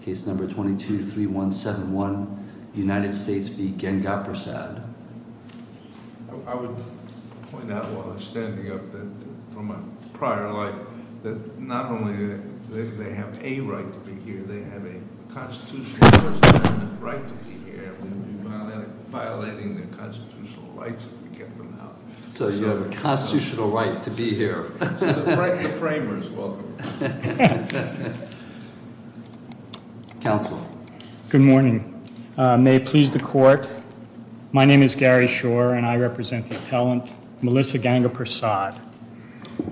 Case number 22-3171, United States v. Gengaprasad. I would point out while I was standing up that from a prior life, that not only do they have a right to be here, they have a constitutional right to be here. We would be violating their constitutional rights if we kept them out. So you have a constitutional right to be here. The framers, welcome. Counsel. Good morning. May it please the court. My name is Gary Shore and I represent the appellant, Melissa Gengaprasad.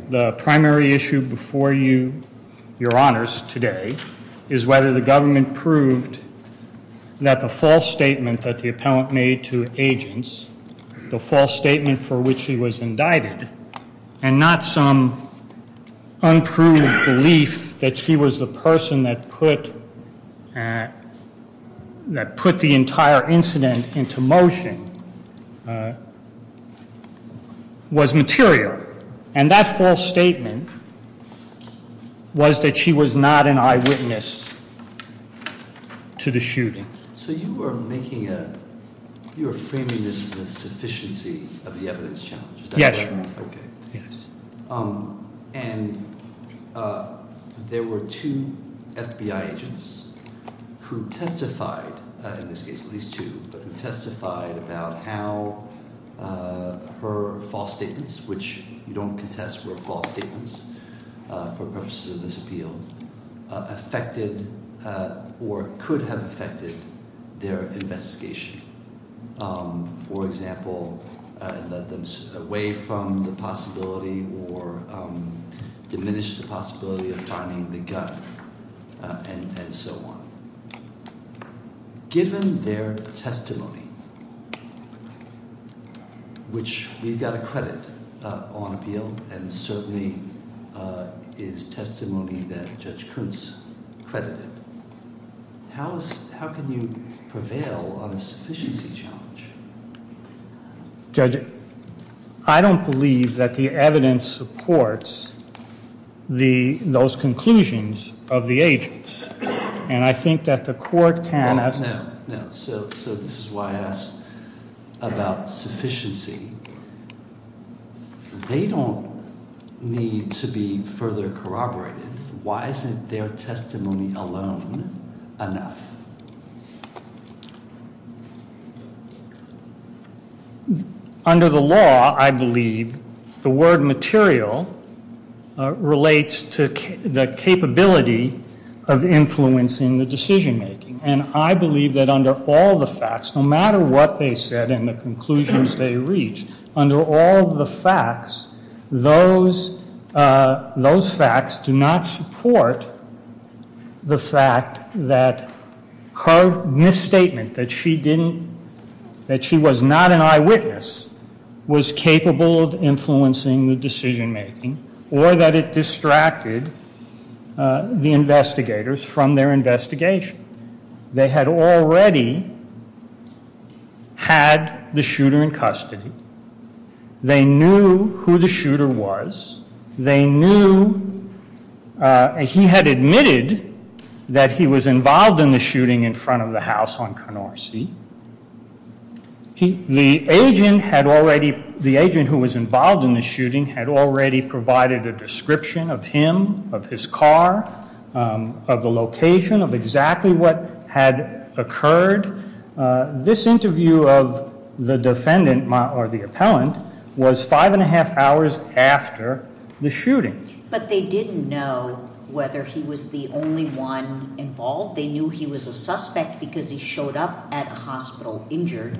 The primary issue before you, your honors today, is whether the government proved that the false statement that the appellant made to agents, the false statement for which she was indicted, and not some unproved belief that she was the person that put the entire incident into motion, was material. And that false statement was that she was not an eyewitness to the shooting. So you are framing this as a sufficiency of the evidence challenge. Yes, your honor. Okay, yes. And there were two FBI agents who testified, in this case at least two, but who testified about how her false statements, which you don't contest were false statements for purposes of this appeal, affected or could have affected their investigation. For example, led them away from the possibility or diminished the possibility of timing the gun and so on. Given their testimony, which we've got to credit on appeal and certainly is testimony that Judge Kuntz credited, how can you prevail on a sufficiency challenge? Judge, I don't believe that the evidence supports those conclusions of the agents. And I think that the court cannot. No, no. So this is why I asked about sufficiency. They don't need to be further corroborated. Why isn't their testimony alone enough? Under the law, I believe the word material relates to the capability of influencing the decision making. And I believe that under all the facts, no matter what they said and the conclusions they reached, under all the facts, those facts do not support the fact that her misstatement that she didn't, that she was not an eyewitness was capable of influencing the decision making or that it distracted the investigators from their investigation. They had already had the shooter in custody. They knew who the shooter was. They knew, he had admitted that he was involved in the shooting in front of the house on Canorsi. The agent had already, the agent who was involved in the shooting had already provided a description of him, of his car, of the location, of exactly what had occurred. This interview of the defendant or the appellant was five and a half hours after the shooting. But they didn't know whether he was the only one involved. They knew he was a suspect because he showed up at the hospital injured,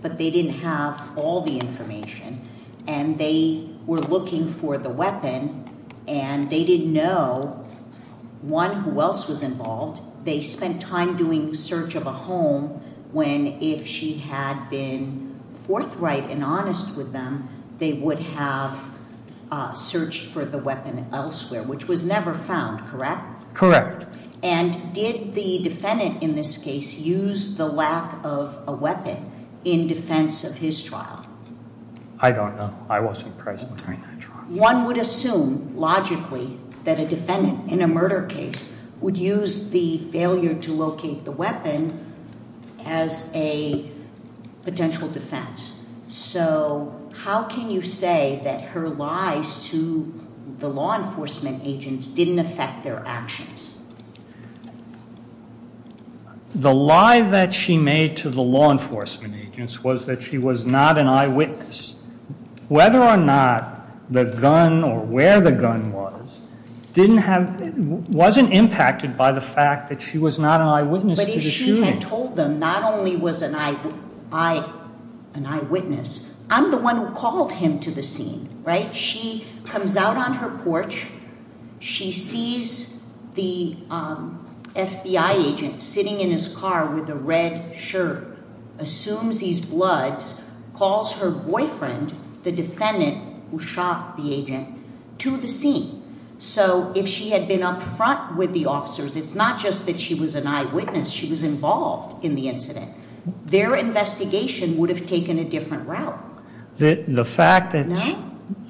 but they didn't have all the information. And they were looking for the weapon and they didn't know one who else was involved. They spent time doing search of a home when if she had been forthright and honest with them, they would have searched for the weapon elsewhere, which was never found, correct? Correct. And did the defendant in this case use the lack of a weapon in defense of his trial? I don't know. I wasn't present during that trial. One would assume, logically, that a defendant in a murder case would use the failure to locate the weapon as a potential defense. So how can you say that her lies to the law enforcement agents didn't affect their actions? The lie that she made to the law enforcement agents was that she was not an eyewitness. Whether or not the gun or where the gun was, didn't have, wasn't impacted by the fact that she was not an eyewitness to the shooting. But if she had told them not only was an eyewitness, I'm the one who called him to the scene, right? She comes out on her porch, she sees the FBI agent sitting in his car with a red shirt, assumes he's Bloods, calls her boyfriend, the defendant who shot the agent, to the scene. So if she had been up front with the officers, it's not just that she was an eyewitness, she was involved in the incident. Their investigation would have taken a different route. The fact that,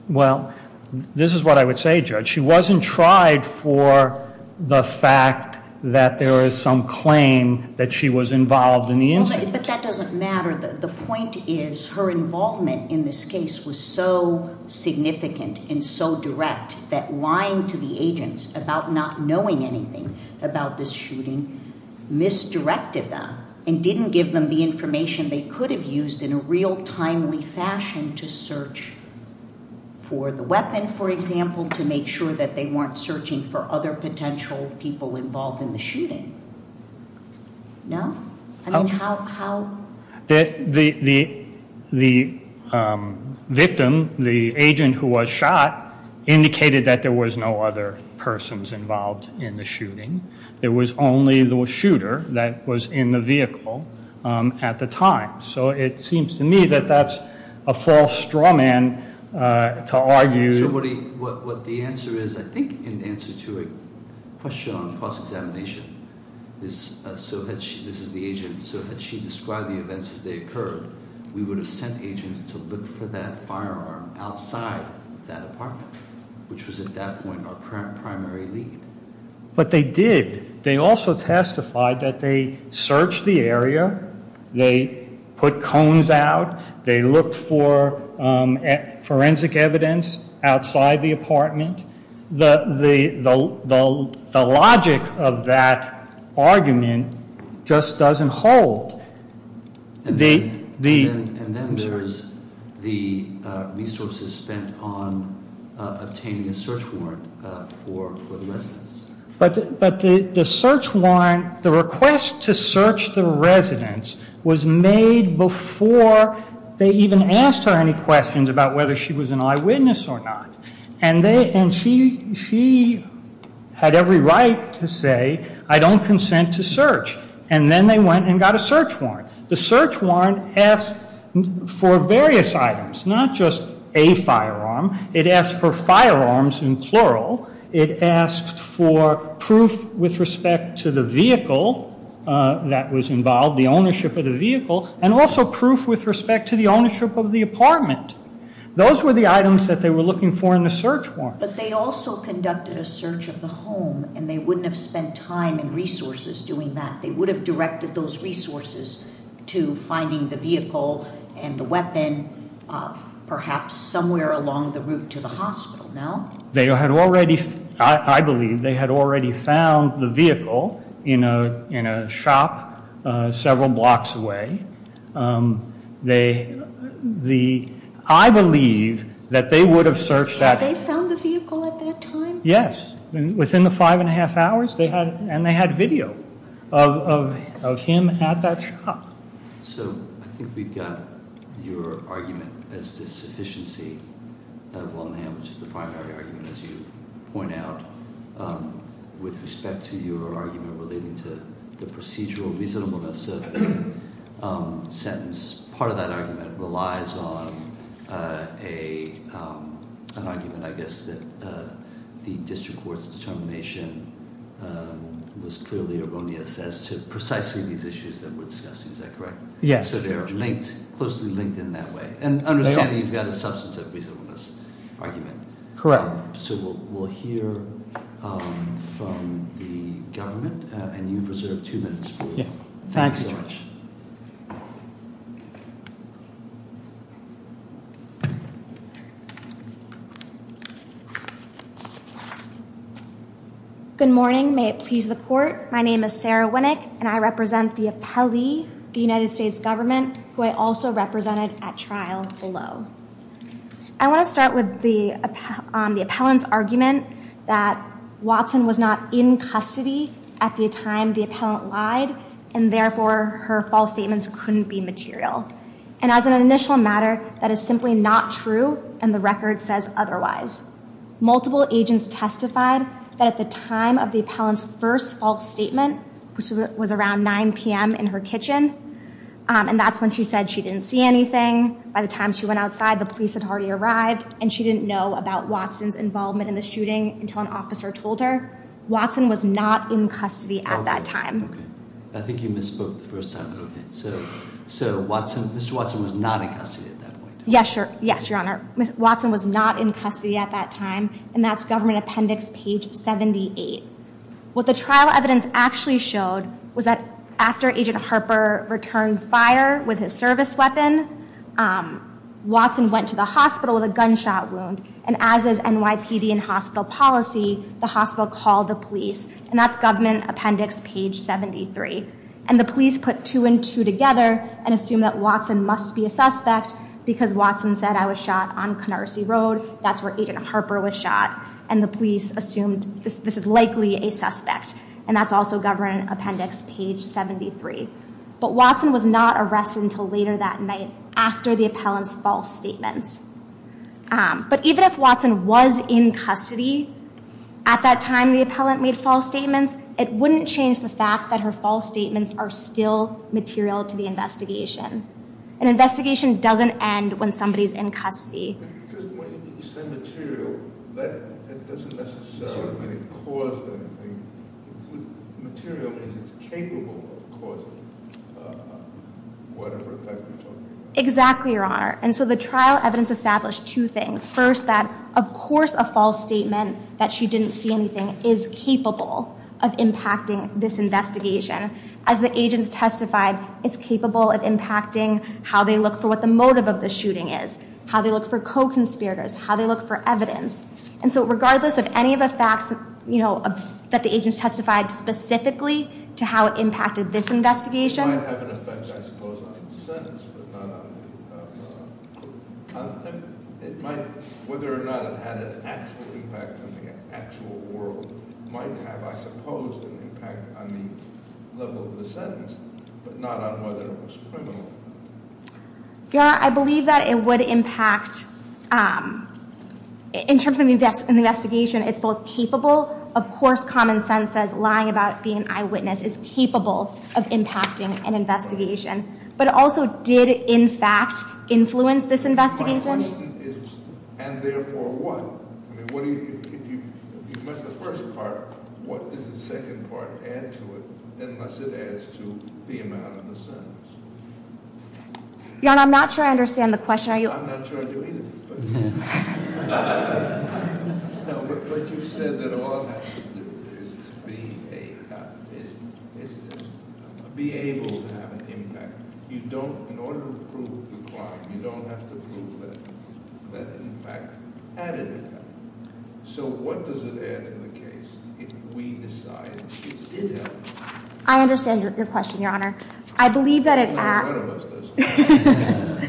well, this is what I would say, Judge. She wasn't tried for the fact that there is some claim that she was involved in the incident. But that doesn't matter. The point is, her involvement in this case was so significant and so direct that lying to the agents about not knowing anything about this shooting misdirected them and didn't give them the information they could have used in a real timely fashion to search for the weapon, for example, to make sure that they weren't searching for other potential people involved in the shooting. No? I mean, how? The victim, the agent who was shot, indicated that there was no other persons involved in the shooting. There was only the shooter that was in the vehicle at the time. So it seems to me that that's a false straw man to argue. So what the answer is, I think, in answer to a question on cross-examination is, so this is the agent, so had she described the events as they occurred, we would have sent agents to look for that firearm outside that apartment, which was at that point our primary lead. But they did. They also testified that they searched the area, they put cones out, they looked for forensic evidence outside the apartment. The logic of that argument just doesn't hold. And then there's the resources spent on obtaining a search warrant for the residence. But the search warrant, the request to search the residence was made before they even asked her any questions about whether she was an eyewitness or not. And she had every right to say, I don't consent to search. And then they went and got a search warrant. The search warrant asked for various items, not just a firearm. It asked for firearms in plural. It asked for proof with respect to the vehicle that was involved, the ownership of the vehicle, and also proof with respect to the ownership of the apartment. Those were the items that they were looking for in the search warrant. But they also conducted a search of the home and they wouldn't have spent time and resources doing that. They would have directed those resources to finding the vehicle and the weapon, perhaps somewhere along the route to the hospital. They had already, I believe, they had already found the vehicle in a shop several blocks away. I believe that they would have searched that- Had they found the vehicle at that time? Yes, within the five and a half hours. And they had video of him at that shop. So I think we've got your argument as to sufficiency of Wilmingham, which is the primary argument, as you point out, with respect to your argument relating to the procedural reasonableness of the sentence. Part of that argument relies on an argument, I guess, that the district court's determination was clearly erroneous as to precisely these issues that we're discussing, is that correct? Yes. So they're linked, closely linked in that way. And understand that you've got a substantive reasonableness argument. Correct. So we'll hear from the government, and you've reserved two minutes. Thanks so much. Thank you. Good morning, may it please the court. My name is Sarah Winnick, and I represent the appellee, the United States government, who I also represented at trial below. I want to start with the appellant's argument that Watson was not in custody at the time the appellant lied, and therefore her false statements couldn't be material. And as an initial matter, that is simply not true, and the record says otherwise. Multiple agents testified that at the time of the appellant's first false statement, which was around 9 p.m. in her kitchen, and that's when she said she didn't see anything. By the time she went outside, the police had already arrived and she didn't know about Watson's involvement in the shooting until an officer told her. Watson was not in custody at that time. I think you misspoke the first time, but okay. So Mr. Watson was not in custody at that point? Yes, your honor. Watson was not in custody at that time, and that's government appendix page 78. What the trial evidence actually showed was that after Agent Harper returned fire with his service weapon, Watson went to the hospital with a gunshot wound, and as is NYPD and hospital policy, the hospital called the police, and that's government appendix page 73. And the police put two and two together and assumed that Watson must be a suspect because Watson said, I was shot on Canarsie Road, that's where Agent Harper was shot, and the police assumed this is likely a suspect, and that's also government appendix page 73. But Watson was not arrested until later that night after the appellant's false statements. But even if Watson was in custody at that time the appellant made false statements, it wouldn't change the fact that her false statements are still material to the investigation. An investigation doesn't end when somebody's in custody. Because when you say material, that doesn't necessarily mean it caused anything. Material means it's capable of causing whatever effect you're talking about. Exactly, your honor. And so the trial evidence established two things. First, that of course a false statement that she didn't see anything is capable of impacting this investigation. As the agents testified, it's capable of impacting how they look for what the motive of the shooting is, how they look for co-conspirators, how they look for evidence. And so regardless of any of the facts that the agents testified specifically to how it impacted this investigation. It might have an effect I suppose on the sentence, but not on the content. It might, whether or not it had an actual impact on the actual world, might have I suppose an impact on the level of the sentence, but not on whether it was criminal. Your honor, I believe that it would impact, in terms of an investigation, it's both capable, of course common sense says lying about being an eyewitness is capable of impacting an investigation. But it also did in fact influence this investigation. My question is, and therefore what? I mean what do you, if you met the first part, what does the second part add to it unless it adds to the amount of the sentence? Your honor, I'm not sure I understand the question, are you? I'm not sure I do either. But. No, but you said that all it has to do is to be a, is to be able to have an impact. You don't, in order to prove the crime, you don't have to prove that it in fact had an impact. So what does it add to the case if we decide it did have an impact? I understand your question, your honor. I believe that it. None of us does.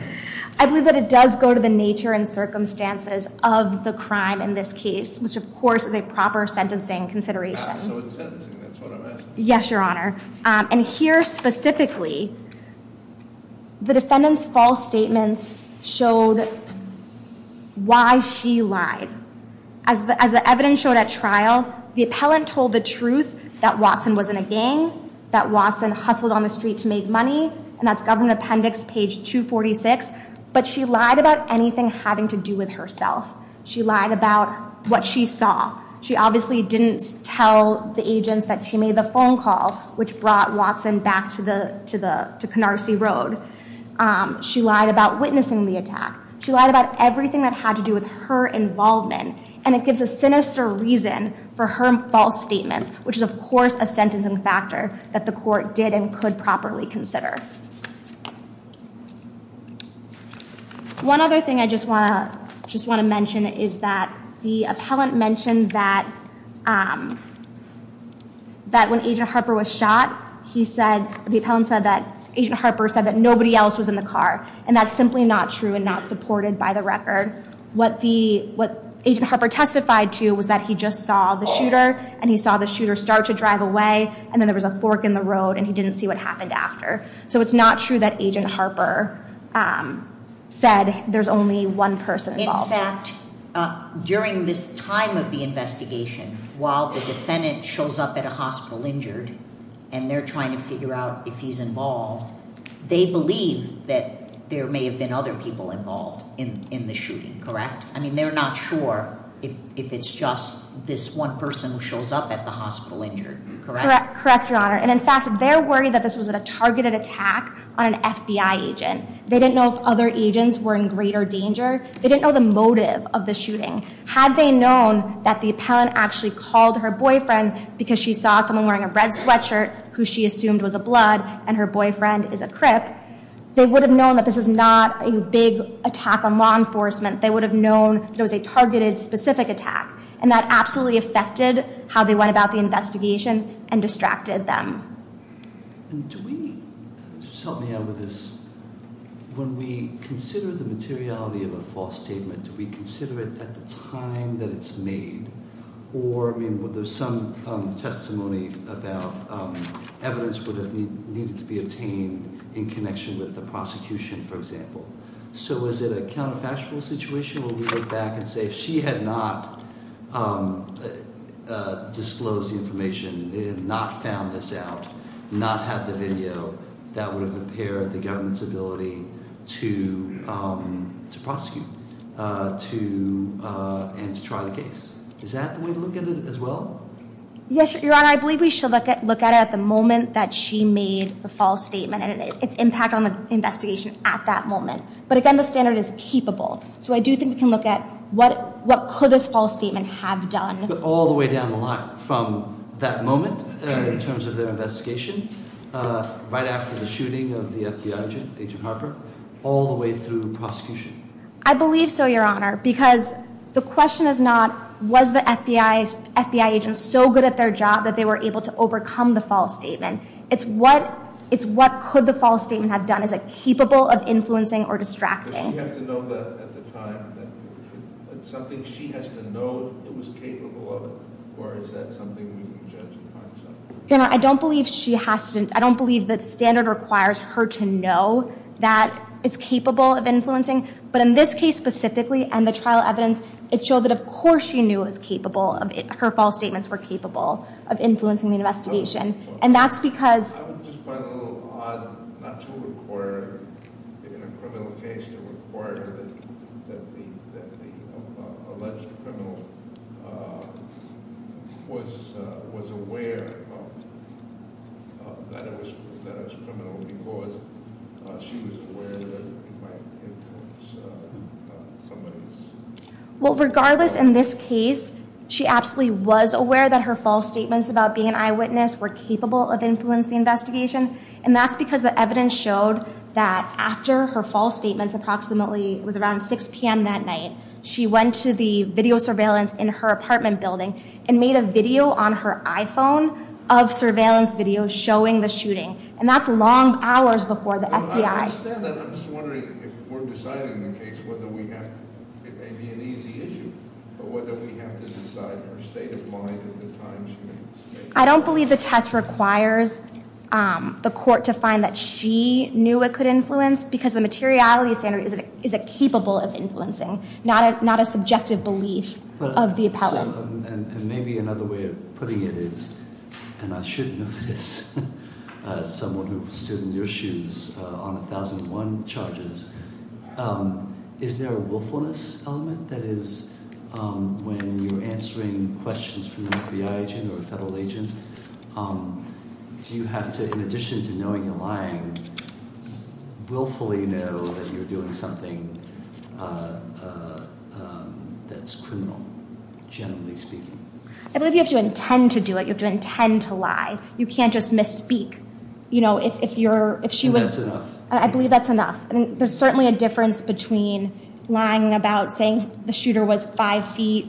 I believe that it does go to the nature and circumstances of the crime in this case, which of course is a proper sentencing consideration. So it's sentencing, that's what I'm asking. Yes, your honor. And here specifically, the defendant's false statements showed why she lied. As the evidence showed at trial, the appellant told the truth that Watson wasn't a gang, that Watson hustled on the street to make money, and that's government appendix page 246. But she lied about anything having to do with herself. She lied about what she saw. She obviously didn't tell the agents that she made the phone call, which brought Watson back to Canarsie Road. She lied about witnessing the attack. She lied about everything that had to do with her involvement. And it gives a sinister reason for her false statements, which is of course a sentencing factor that the court did and could properly consider. One other thing I just want to mention is that the appellant mentioned that when Agent Harper was shot, he said, the appellant said that Agent Harper said that nobody else was in the car. And that's simply not true and not supported by the record. What Agent Harper testified to was that he just saw the shooter, and he saw the shooter start to drive away, and then there was a fork in the road, and he didn't see what happened after. So it's not true that Agent Harper said there's only one person involved. In fact, during this time of the investigation, while the defendant shows up at a hospital injured, and they're trying to figure out if he's involved, they believe that there may have been other people involved in the shooting, correct? I mean, they're not sure if it's just this one person who shows up at the hospital injured, correct? Correct, Your Honor, and in fact, they're worried that this was a targeted attack on an FBI agent. They didn't know if other agents were in greater danger. They didn't know the motive of the shooting. Had they known that the appellant actually called her boyfriend because she saw someone wearing a red sweatshirt who she assumed was a blood, and her boyfriend is a crip, they would have known that this is not a big attack on law enforcement. They would have known that it was a targeted, specific attack, and that absolutely affected how they went about the investigation and distracted them. And do we, just help me out with this, when we consider the materiality of a false statement, do we consider it at the time that it's made, or, I mean, there's some testimony about evidence would have needed to be obtained in connection with the prosecution, for example. So is it a counterfactual situation where we look back and say, if she had not disclosed the information, they had not found this out, not had the video, that would have impaired the government's ability to prosecute, and to try the case. Is that the way to look at it as well? Yes, your honor, I believe we should look at it at the moment that she made the false statement, and its impact on the investigation at that moment. But again, the standard is capable. So I do think we can look at what could this false statement have done. All the way down the line from that moment, in terms of their investigation, right after the shooting of the FBI agent, Agent Harper, all the way through prosecution. I believe so, your honor, because the question is not, was the FBI agent so good at their job that they were able to overcome the false statement? It's what could the false statement have done? Is it capable of influencing or distracting? Does she have to know that at the time? It's something she has to know it was capable of, or is that something we can judge by itself? Your honor, I don't believe she has to, I don't believe the standard requires her to know that it's capable of influencing. But in this case specifically, and the trial evidence, it showed that of course she knew it was capable of, her false statements were capable of influencing the investigation. And that's because- I would just find it a little odd not to require, in a criminal case, to require that the alleged criminal was aware that it was criminal because she was aware that it might influence somebody. Well, regardless, in this case, she absolutely was aware that her false statements about being an eyewitness were capable of influencing the investigation. And that's because the evidence showed that after her false statements approximately, it was around 6 p.m. that night, she went to the video surveillance in her apartment building and made a video on her iPhone of surveillance video showing the shooting. And that's long hours before the FBI- I understand that, I'm just wondering if we're deciding in the case whether we have, it may be an easy issue, but whether we have to decide her state of mind and the time she made the statement. I don't believe the test requires the court to find that she knew it could influence because the materiality standard is it capable of influencing. Not a subjective belief of the appellate. And maybe another way of putting it is, and I should know this, someone who stood in your shoes on 1001 charges, is there a willfulness element? That is, when you're answering questions from an FBI agent or a federal agent, do you have to, in addition to knowing you're lying, willfully know that you're doing something that's criminal, generally speaking? I believe you have to intend to do it. You have to intend to lie. You can't just misspeak. And that's enough. I believe that's enough. And there's certainly a difference between lying about saying the shooter was five feet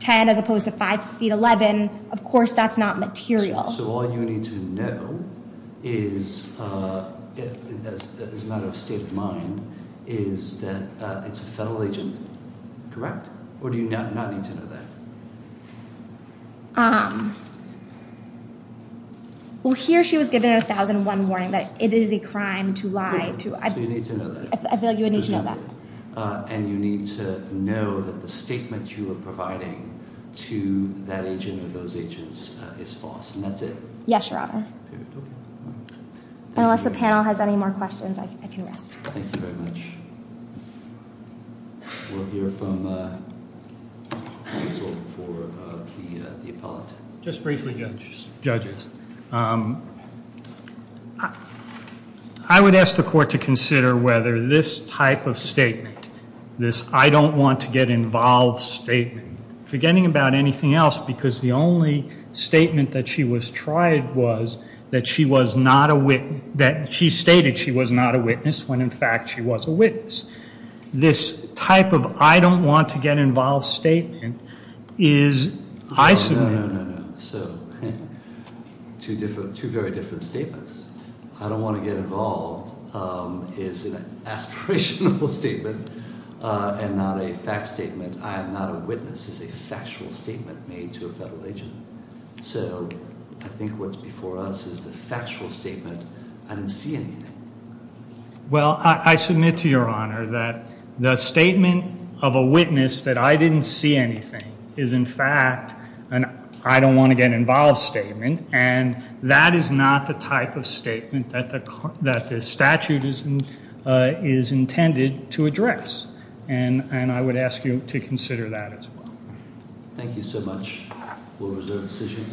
10 as opposed to five feet 11. Of course, that's not material. So all you need to know is, as a matter of state of mind, is that it's a federal agent, correct? Or do you not need to know that? Well, here she was given a 1001 warning that it is a crime to lie. So you need to know that. I feel like you would need to know that. And you need to know that the statement you are providing to that agent or those agents is false. And that's it. Yes, Your Honor. Unless the panel has any more questions, I can rest. Thank you very much. We'll hear from counsel for the appellate. Just briefly, judges. I would ask the court to consider whether this type of statement, this I don't want to get involved statement, forgetting about anything else, because the only statement that she was tried was that she stated she was not a witness when in fact she was a witness. This type of I don't want to get involved statement is, I submit- No, no, no, no, no. So two very different statements. I don't want to get involved is an aspirational statement and not a fact statement. I am not a witness is a factual statement made to a federal agent. So I think what's before us is the factual statement. I didn't see anything. Well, I submit to Your Honor that the statement of a witness that I didn't see anything is in fact an I don't want to get involved statement. And that is not the type of statement that the statute is intended to address. And I would ask you to consider that as well. Thank you so much. We'll reserve the decision.